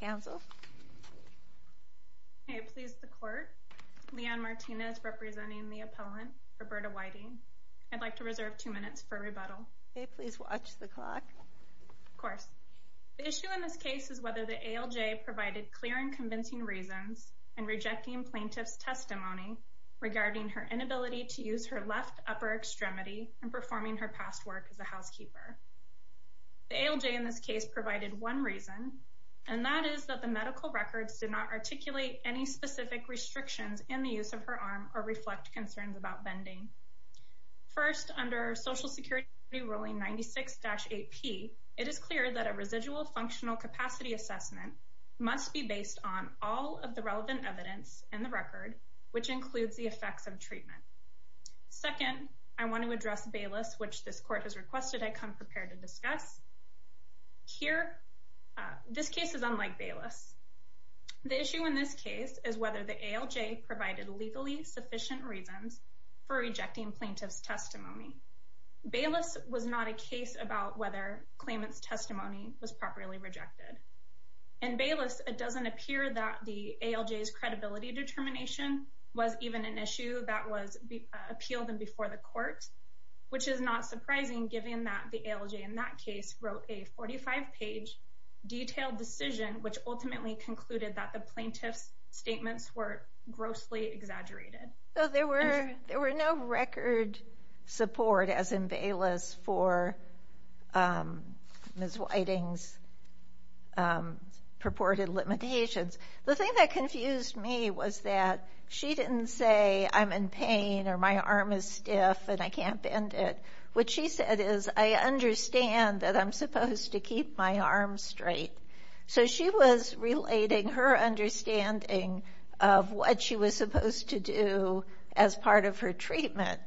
Council. May it please the Court. Leigh Ann Martinez representing the appellant Roberta Whiting. I'd like to reserve two minutes for rebuttal. May it please watch the clock. Of course. The issue in this case is whether the ALJ provided clear and convincing reasons in rejecting plaintiff's testimony regarding her inability to use her left upper extremity and performing her past work as a housekeeper. The ALJ in this case provided one reason, and that is that the medical records did not articulate any specific restrictions in the use of her arm or reflect concerns about bending. First, under Social Security Ruling 96-8P, it is clear that a residual functional capacity assessment must be based on all of the relevant evidence in the record, which includes the effects of treatment. Second, I want to address Bayless, which this Court has requested I come prepared to discuss. Here, this case is unlike Bayless. The issue in this case is whether the ALJ provided legally sufficient reasons for rejecting plaintiff's testimony. Bayless was not a case about whether claimant's testimony was properly rejected. In Bayless, it doesn't appear that the ALJ's credibility determination was even an issue that was appealed in before the Court, which is not surprising given that the ALJ in that case wrote a 45-page detailed decision which ultimately concluded that the plaintiff's statements were grossly exaggerated. So there were there were no record support as in Bayless for Ms. Whiting's purported limitations. The thing that confused me was that she didn't say I'm in pain or my arm is stiff and I can't bend it. What she said is I understand that I'm supposed to keep my arm straight. So she was relating her understanding of what she was supposed to do as part of her treatment.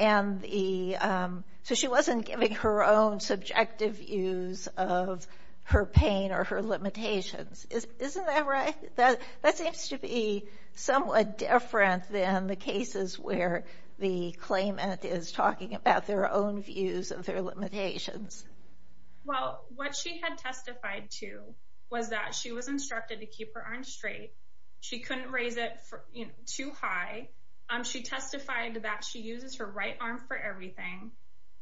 So she wasn't giving her own subjective views of her pain or her limitations. Isn't that right? That seems to be somewhat different than the cases where the claimant is talking about their own views of their limitations. Well, what she had testified to was that she was instructed to keep her arm straight. She couldn't raise it too high. She testified that she uses her right arm for everything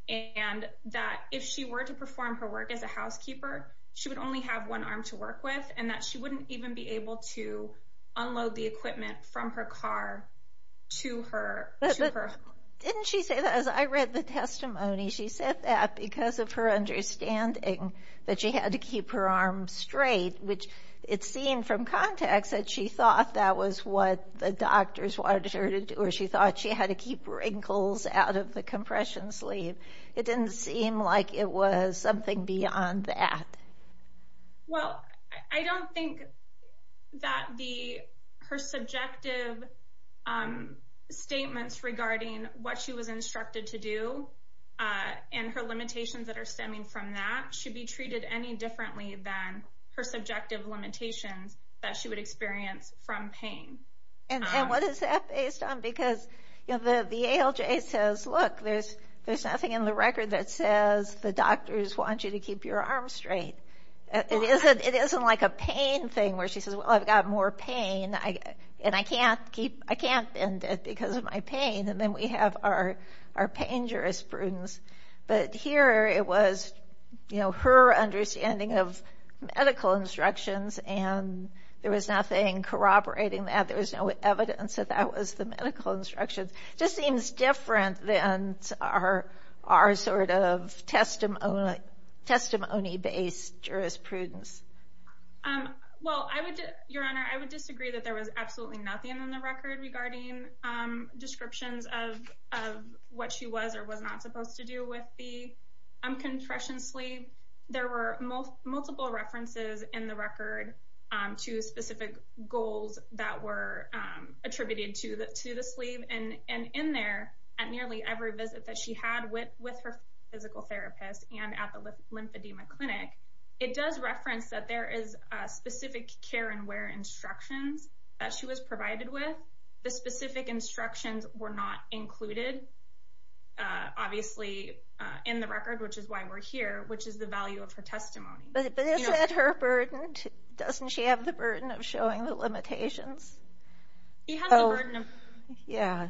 and that if she were to perform her work as a housekeeper, she would only have one to work with and that she wouldn't even be able to unload the equipment from her car to her. Didn't she say that as I read the testimony she said that because of her understanding that she had to keep her arm straight, which it seemed from context that she thought that was what the doctors wanted her to do or she thought she had to keep her ankles out of the compression sleeve. It didn't seem like it was something beyond that. Well, I don't think that her subjective statements regarding what she was instructed to do and her limitations that are stemming from that should be treated any differently than her subjective limitations that she would experience from pain. And what is that based on? Because the ALJ says look there's there's nothing in the the doctors want you to keep your arm straight. It isn't it isn't like a pain thing where she says well I've got more pain and I can't keep I can't bend it because of my pain and then we have our our pain jurisprudence. But here it was you know her understanding of medical instructions and there was nothing corroborating that there was no evidence that that was the medical instructions. Just seems different than our our sort of testimony testimony based jurisprudence. Well, I would your honor, I would disagree that there was absolutely nothing in the record regarding descriptions of what she was or was not supposed to do with the compression sleeve. There were multiple references in the record to specific goals that were attributed to to the sleeve and and in there at nearly every visit that she had with with her physical therapist and at the lymphedema clinic. It does reference that there is specific care and where instructions that she was provided with. The specific instructions were not included. Obviously, in the record, which is why we're here, which is the value of her testimony. But is that her burden? Doesn't she have the burden of showing the limitations? He has. Yeah,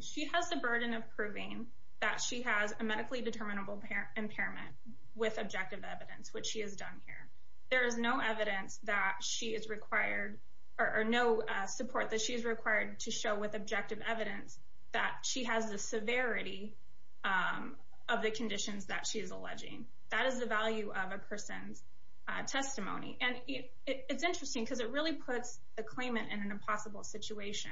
she has the burden of proving that she has a medically determinable impairment with objective evidence, which she has done here. There is no evidence that she is required or no support that she is required to show with objective evidence that she has the severity of the conditions that she is alleging. That is the value of a person's testimony. And it's interesting because it really puts the claimant in an impossible situation,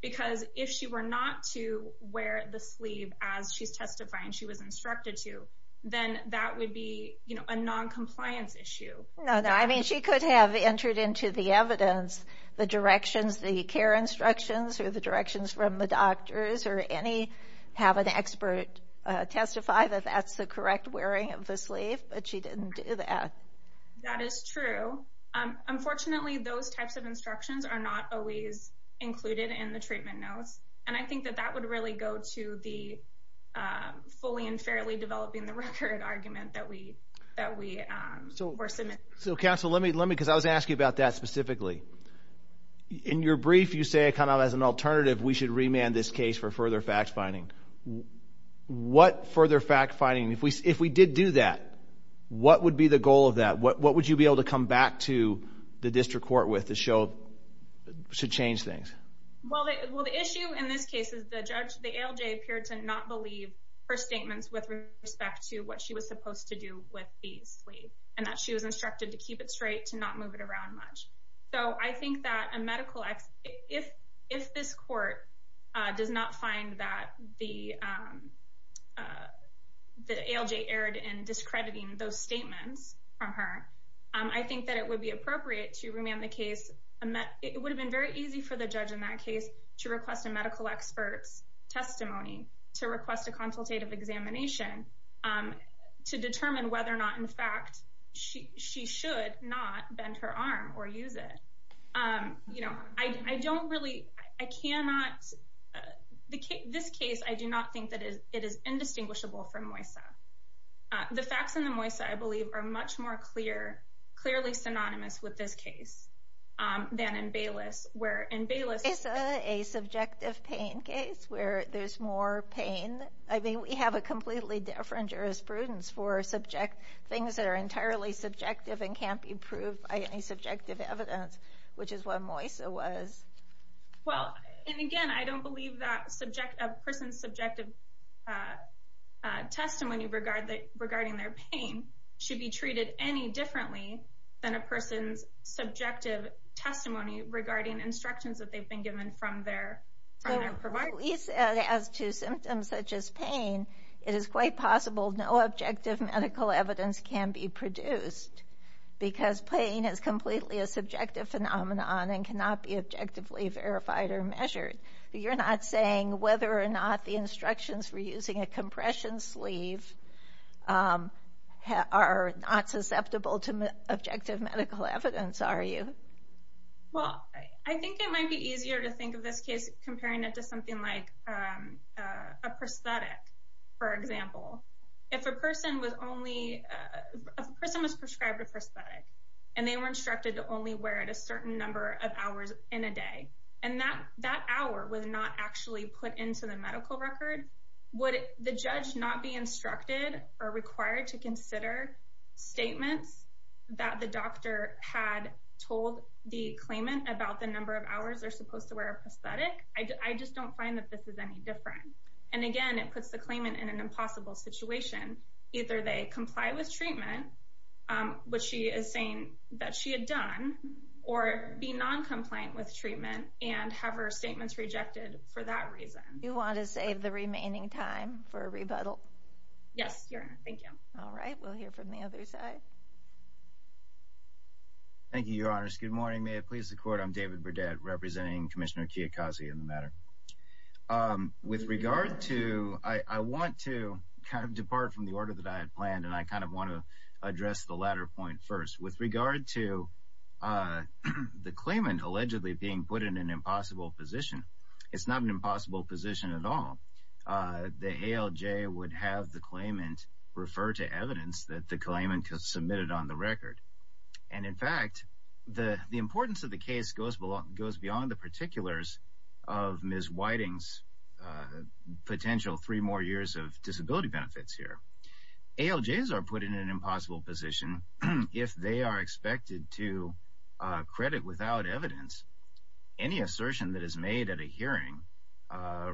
because if she were not to wear the sleeve as she's testifying, she was instructed to, then that would be a noncompliance issue. No, no. I mean, she could have entered into the evidence, the directions, the care instructions or the directions from the doctors or any have an expert testify that that's the correct wearing of the sleeve. But she didn't do that. That is true. Unfortunately, those types of instructions are not always included in the treatment notes. And I think that that would really go to the fully and fairly developing the record argument that we that we were submitted. So Council, let me let me because I was asking about that specifically. In your brief, you say kind of as an alternative, we should remand this case for further fact finding. What further fact finding? If we if we did do that, what would be the goal of that? What would you be able to come back to the district court with the show should change things? Well, the issue in this case is the judge. The LJ appeared to not believe her statements with respect to what she was supposed to do with the sleeve and that she was instructed to keep it straight to not move it around much. So I think that a medical X if if this court does not find that the the LJ erred in discrediting those statements from her, I think that it would be appropriate to remand the case. It would have been very easy for the judge in that case to request a medical expert's testimony to request a consultative examination to determine whether or not, in fact, she she should not bend her arm or use it. Um, you know, I don't really I cannot the this case. I do not think that it is indistinguishable from Moissa. The facts in the Moissa, I believe, are much more clear, clearly synonymous with this case. Um, than in Bayless, where in Bayless is a subjective pain case where there's more pain. I mean, we have a completely different jurisprudence for subject things that are entirely subjective and can't be proved by any subjective evidence, which is what Moissa was. Well, and again, I don't believe that subject a person's subjective, uh, testimony regarding their pain should be treated any differently than a person's subjective testimony regarding instructions that they've been given from their from their we said as to symptoms such as pain, it is quite possible no objective medical evidence can be produced because pain is completely a subjective phenomenon and cannot be objectively verified or measured. You're not saying whether or not the instructions for using a compression sleeve, um, are not susceptible to objective medical evidence, are you? Well, I think it might be easier to think of this case comparing it to something like, um, a prosthetic, for example, if a person was only a person was prescribed a prosthetic and they were instructed to only wear it a certain number of hours in a day and that that hour was not actually put into the medical record. Would the judge not be instructed or required to consider statements that the doctor had told the claimant about the number of hours they're supposed to wear a prosthetic? I just don't find that this is any different. And again, it puts the claimant in an impossible situation. Either they comply with treatment, um, what she is saying that she had done or be non compliant with treatment and have her statements rejected. For that reason, you want to save the remaining time for a rebuttal? Yes. Thank you. All right, we'll hear from the other side. Thank you, Your Honor. Good morning. May it please the court. I'm David Burdett, representing Commissioner Kiyokazu in the matter. Um, with regard to I want to kind of depart from the order that I had planned, and I kind of want to address the latter point first with regard to, uh, the claimant allegedly being put in an impossible position. It's not an impossible position at all. Uh, the A. L. J. Would have the claimant refer to evidence that the claimant submitted on the record. And in fact, the importance of the case goes goes beyond the particulars of Miss Whiting's potential three more years of disability benefits here. A. L. J. Is are put in an impossible position if they are expected to credit without evidence any assertion that is made at a hearing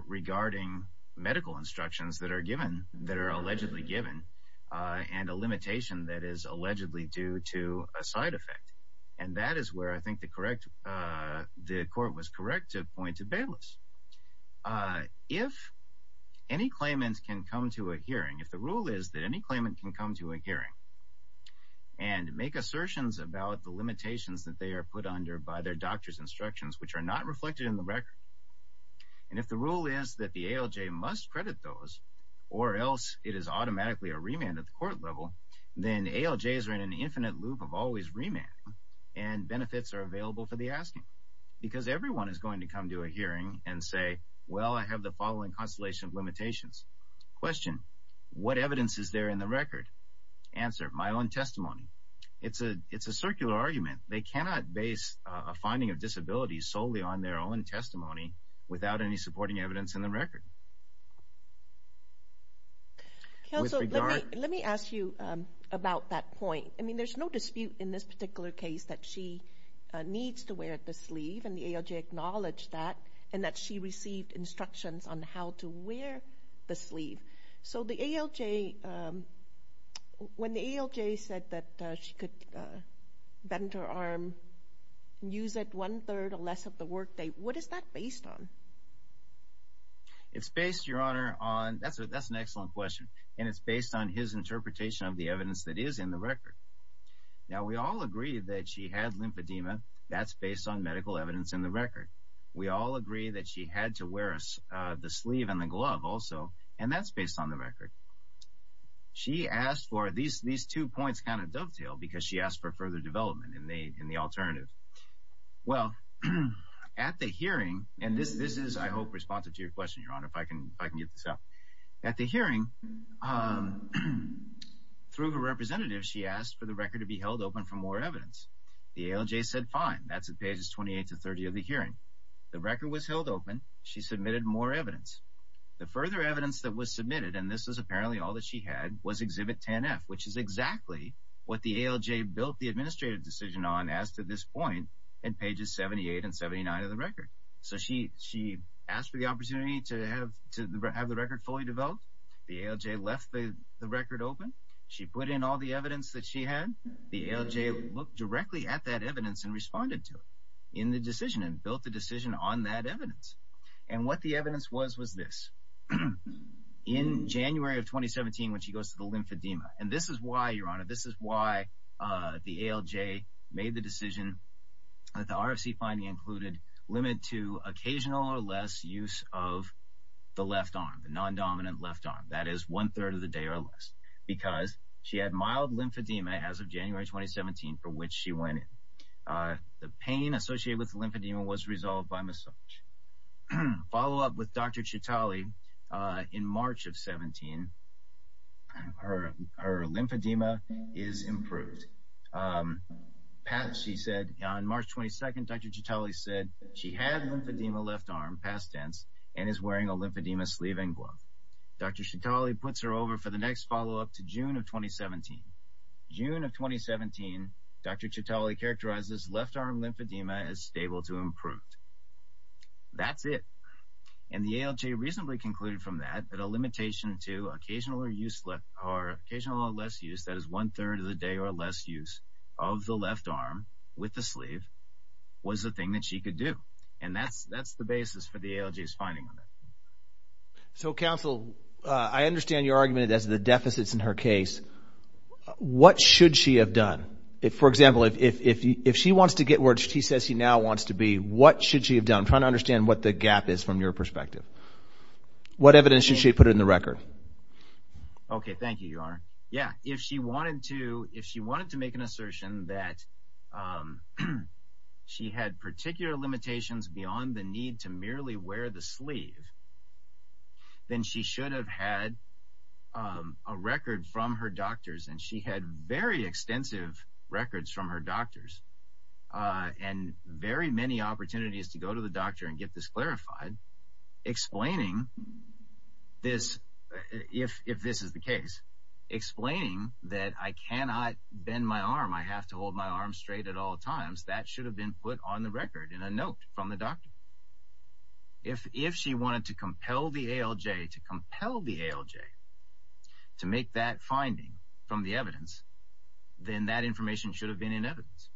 regarding medical instructions that are allegedly given on a limitation that is allegedly due to a side effect. And that is where I think the correct, uh, the court was correct to point to Bayless. Uh, if any claimants can come to a hearing, if the rule is that any claimant can come to a hearing and make assertions about the limitations that they are put under by their doctor's instructions, which are not reflected in the record. And if the rule is that the A. L. J. Must credit those or else it is automatically a remand of court level, then A. L. J. Is are in an infinite loop of always remand and benefits are available for the asking because everyone is going to come to a hearing and say, Well, I have the following constellation of limitations question. What evidence is there in the record? Answer my own testimony. It's a It's a circular argument. They cannot base a without any supporting evidence in the record. Council, let me ask you about that point. I mean, there's no dispute in this particular case that she needs to wear the sleeve and the A. L. J. Acknowledged that and that she received instructions on how to wear the sleeve. So the A. L. J. Um, when the A. L. J. Said that she could, uh, enter arm news at one third or less of the work day. What is that based on? It's based, Your Honor on. That's a That's an excellent question, and it's based on his interpretation of the evidence that is in the record. Now, we all agree that she had lymphedema. That's based on medical evidence in the record. We all agree that she had to wear us the sleeve and the glove also, and that's based on the record. She asked for these. These two points kind of dovetail because she asked for further development in the in the alternative. Well, at the hearing, and this this is, I hope, responsive to your question, Your Honor. If I can, I can get this up at the hearing. Um, through her representative, she asked for the record to be held open for more evidence. The A. L. J. Said Fine. That's a pages 28 to 30 of the hearing. The record was held open. She submitted more evidence. The further evidence that was submitted, and this is apparently all that she had was exhibit 10 F, which is exactly what the A. L. J. Built the administrative decision on as to this point and pages 78 and 79 of the record. So she she asked for the opportunity to have to have the record fully developed. The A. L. J. Left the record open. She put in all the evidence that she had. The A. L. J. Looked directly at that evidence and responded to in the decision and built the decision on that evidence. And what the evidence was was this in January of 2017 when she goes to the lymphedema. And this is why you're on this is why the A. L. J. Made the decision that the R. S. E. Finding included limit to occasional or less use of the left arm, the non dominant left arm. That is, one third of the day or less because she had mild lymphedema as of January 2017, for which she went in. Uh, the pain associated with lymphedema was resolved by massage. Follow up with Dr. Chitali in March of 17. Her her lymphedema is improved. Um, Pat, she said on March 22nd, Dr Chitali said she had lymphedema left arm past tense and is wearing a lymphedema sleeve and glove. Dr Chitali puts her over for the next follow up to June of 2017. June of 2017. Dr Chitali characterizes left arm lymphedema is able to improve. That's it. And the A. L. J. Recently concluded from that that a limitation to occasional or use left are occasional or less use. That is, one third of the day or less use of the left arm with the sleeve was the thing that she could do. And that's that's the basis for the A. L. J. Is finding on it. So, Council, I understand your argument as the deficits in her case. What should she have done? If, for example, if if if she wants to get where she says he now wants to be, what should she have done? Trying to understand what the gap is from your perspective. What evidence should she put in the record? Okay, thank you, Your Honor. Yeah, if she wanted to, if she wanted to make an assertion that, um, she had particular limitations beyond the need to merely wear the sleeve, then she should have had, um, a record from her doctors, and she had very many opportunities to go to the doctor and get this clarified, explaining this. If if this is the case explaining that I cannot bend my arm, I have to hold my arm straight at all times. That should have been put on the record in a note from the doctor. If if she wanted to compel the A. L. J. To compel the A. L. J. To make that finding from the evidence, then that information should have been in evidence.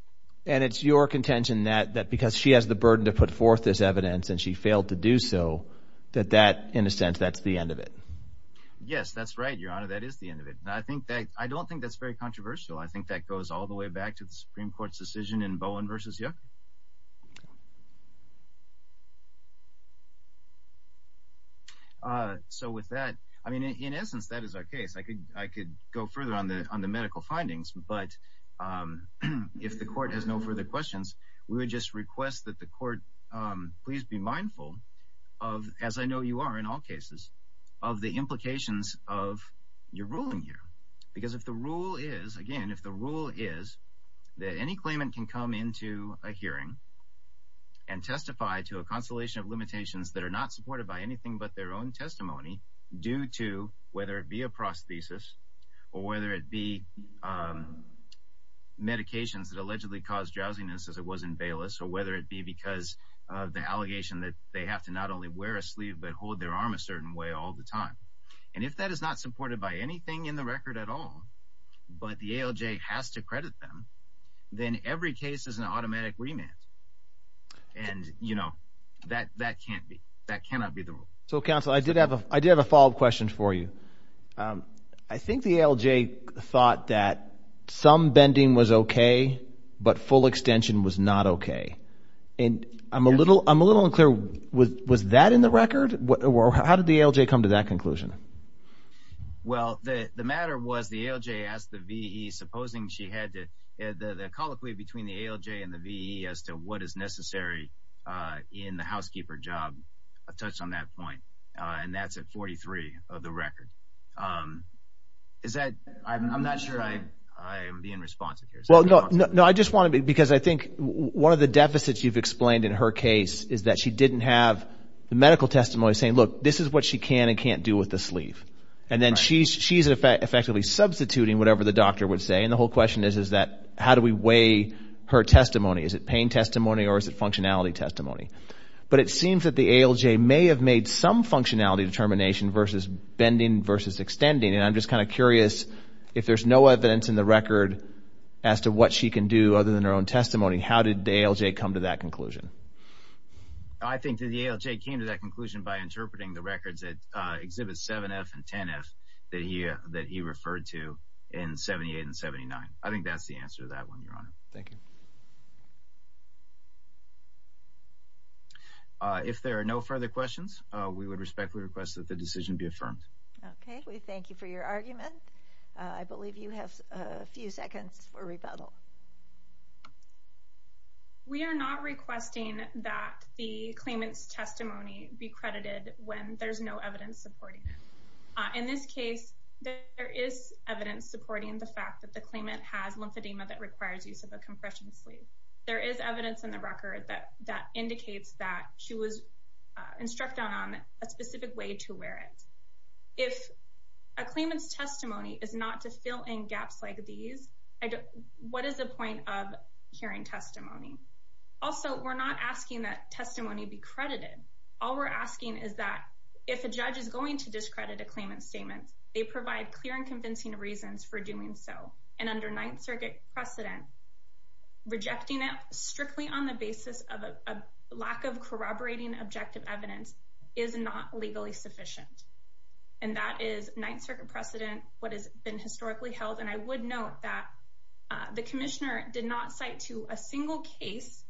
And it's your contention that that because she has the burden to put forth this evidence and she failed to do so that that in a sense, that's the end of it. Yes, that's right, Your Honor. That is the end of it. And I think that I don't think that's very controversial. I think that goes all the way back to the Supreme Court's decision in Bowen versus you. So with that, I mean, in essence, that is our case. I could I could go further on the on the medical findings, but if the court has no further questions, we would just request that the court please be mindful of, as I know you are in all cases of the implications of your ruling here. Because if the rule is again, if the rule is that any claimant can come into a hearing and testify to a consolation of limitations that are not supported by anything but their own testimony due to whether it be a prosthesis or whether it be medications that allegedly caused drowsiness as it was in Bayless or whether it be because of the allegation that they have to not only wear a sleeve but hold their arm a certain way all the time. And if that is not supported by anything in the record at all, but the ALJ has to credit them, then every case is an automatic remand. And you know that that can't be that cannot be the rule. So, Counsel, I did have a I did some bending was okay, but full extension was not okay. And I'm a little I'm a little unclear. Was that in the record? How did the ALJ come to that conclusion? Well, the matter was the ALJ asked the VE supposing she had to the colloquy between the ALJ and the VE as to what is necessary in the housekeeper job. I've touched on that point. And that's at 43 of the I'm being responsive here. Well, no, no, I just want to be because I think one of the deficits you've explained in her case is that she didn't have the medical testimony saying, look, this is what she can and can't do with the sleeve. And then she's she's effectively substituting whatever the doctor would say. And the whole question is, is that how do we weigh her testimony? Is it pain testimony? Or is it functionality testimony? But it seems that the ALJ may have made some functionality determination versus bending versus extending. And I'm just kind of curious, if there's no evidence in the record as to what she can do other than her own testimony, how did the ALJ come to that conclusion? I think the ALJ came to that conclusion by interpreting the records that exhibit 7F and 10F that he that he referred to in 78 and 79. I think that's the answer to that one, Your Honor. Thank you. If there are no further questions, we would respectfully request that the decision be affirmed. Okay, we thank you for your argument. I believe you have a few seconds for rebuttal. We are not requesting that the claimant's testimony be credited when there's no evidence supporting it. In this case, there is evidence supporting the fact that the claimant has lymphedema that requires use of a compression sleeve. There is evidence in the record that that indicates that she was instructed on a specific way to wear it. If a claimant's testimony is not to fill in gaps like these, what is the point of hearing testimony? Also, we're not asking that testimony be credited. All we're asking is that if a judge is going to discredit a claimant's statement, they provide clear and convincing reasons for doing so. And under Ninth Circuit precedent, rejecting it strictly on the basis of a lack of corroborating objective evidence is not legally sufficient. And that is Ninth Circuit precedent, what has been historically held. And I would note that the commissioner did not cite to a single case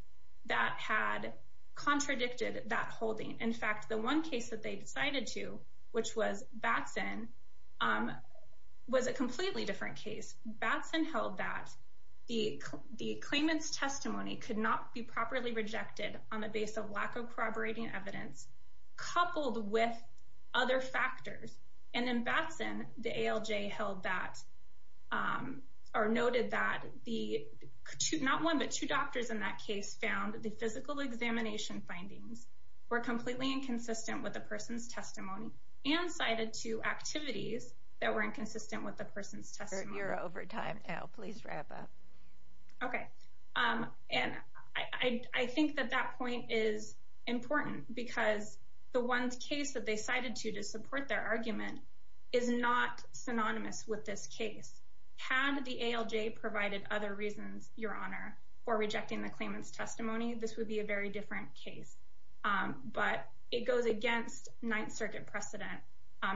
that had contradicted that holding. In fact, the one case that they decided to, which was Batson, um, was a completely different case. Batson held that the claimant's testimony could not be properly rejected on the base of lack of corroborating evidence, coupled with other factors. And in Batson, the ALJ held that, um, or noted that the not one, but two doctors in that case found the physical examination findings were completely inconsistent with the person's testimony and cited to activities that were inconsistent with the person's testimony. You're over time now. Please wrap up. Okay. Um, and I think that that point is important because the ones case that they cited to to support their argument is not synonymous with this case. Had the ALJ provided other reasons, Your Honor, for rejecting the claimant's case. But it goes against Ninth Circuit precedent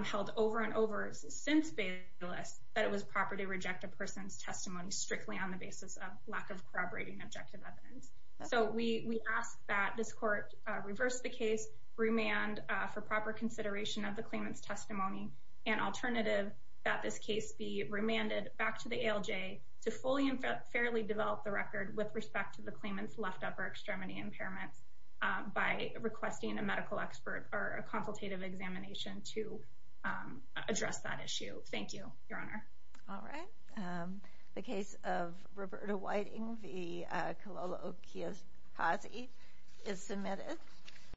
held over and over since Bayless that it was proper to reject a person's testimony strictly on the basis of lack of corroborating objective evidence. So we asked that this court reversed the case remand for proper consideration of the claimant's testimony and alternative that this case be remanded back to the ALJ to fully and fairly develop the record with respect to the claimant's left upper extremity impairments by requesting a medical expert or a consultative examination to, um, address that issue. Thank you, Your Honor. All right. Um, the case of Roberta Whiting, the, uh, Cololo Kia's posse is submitted.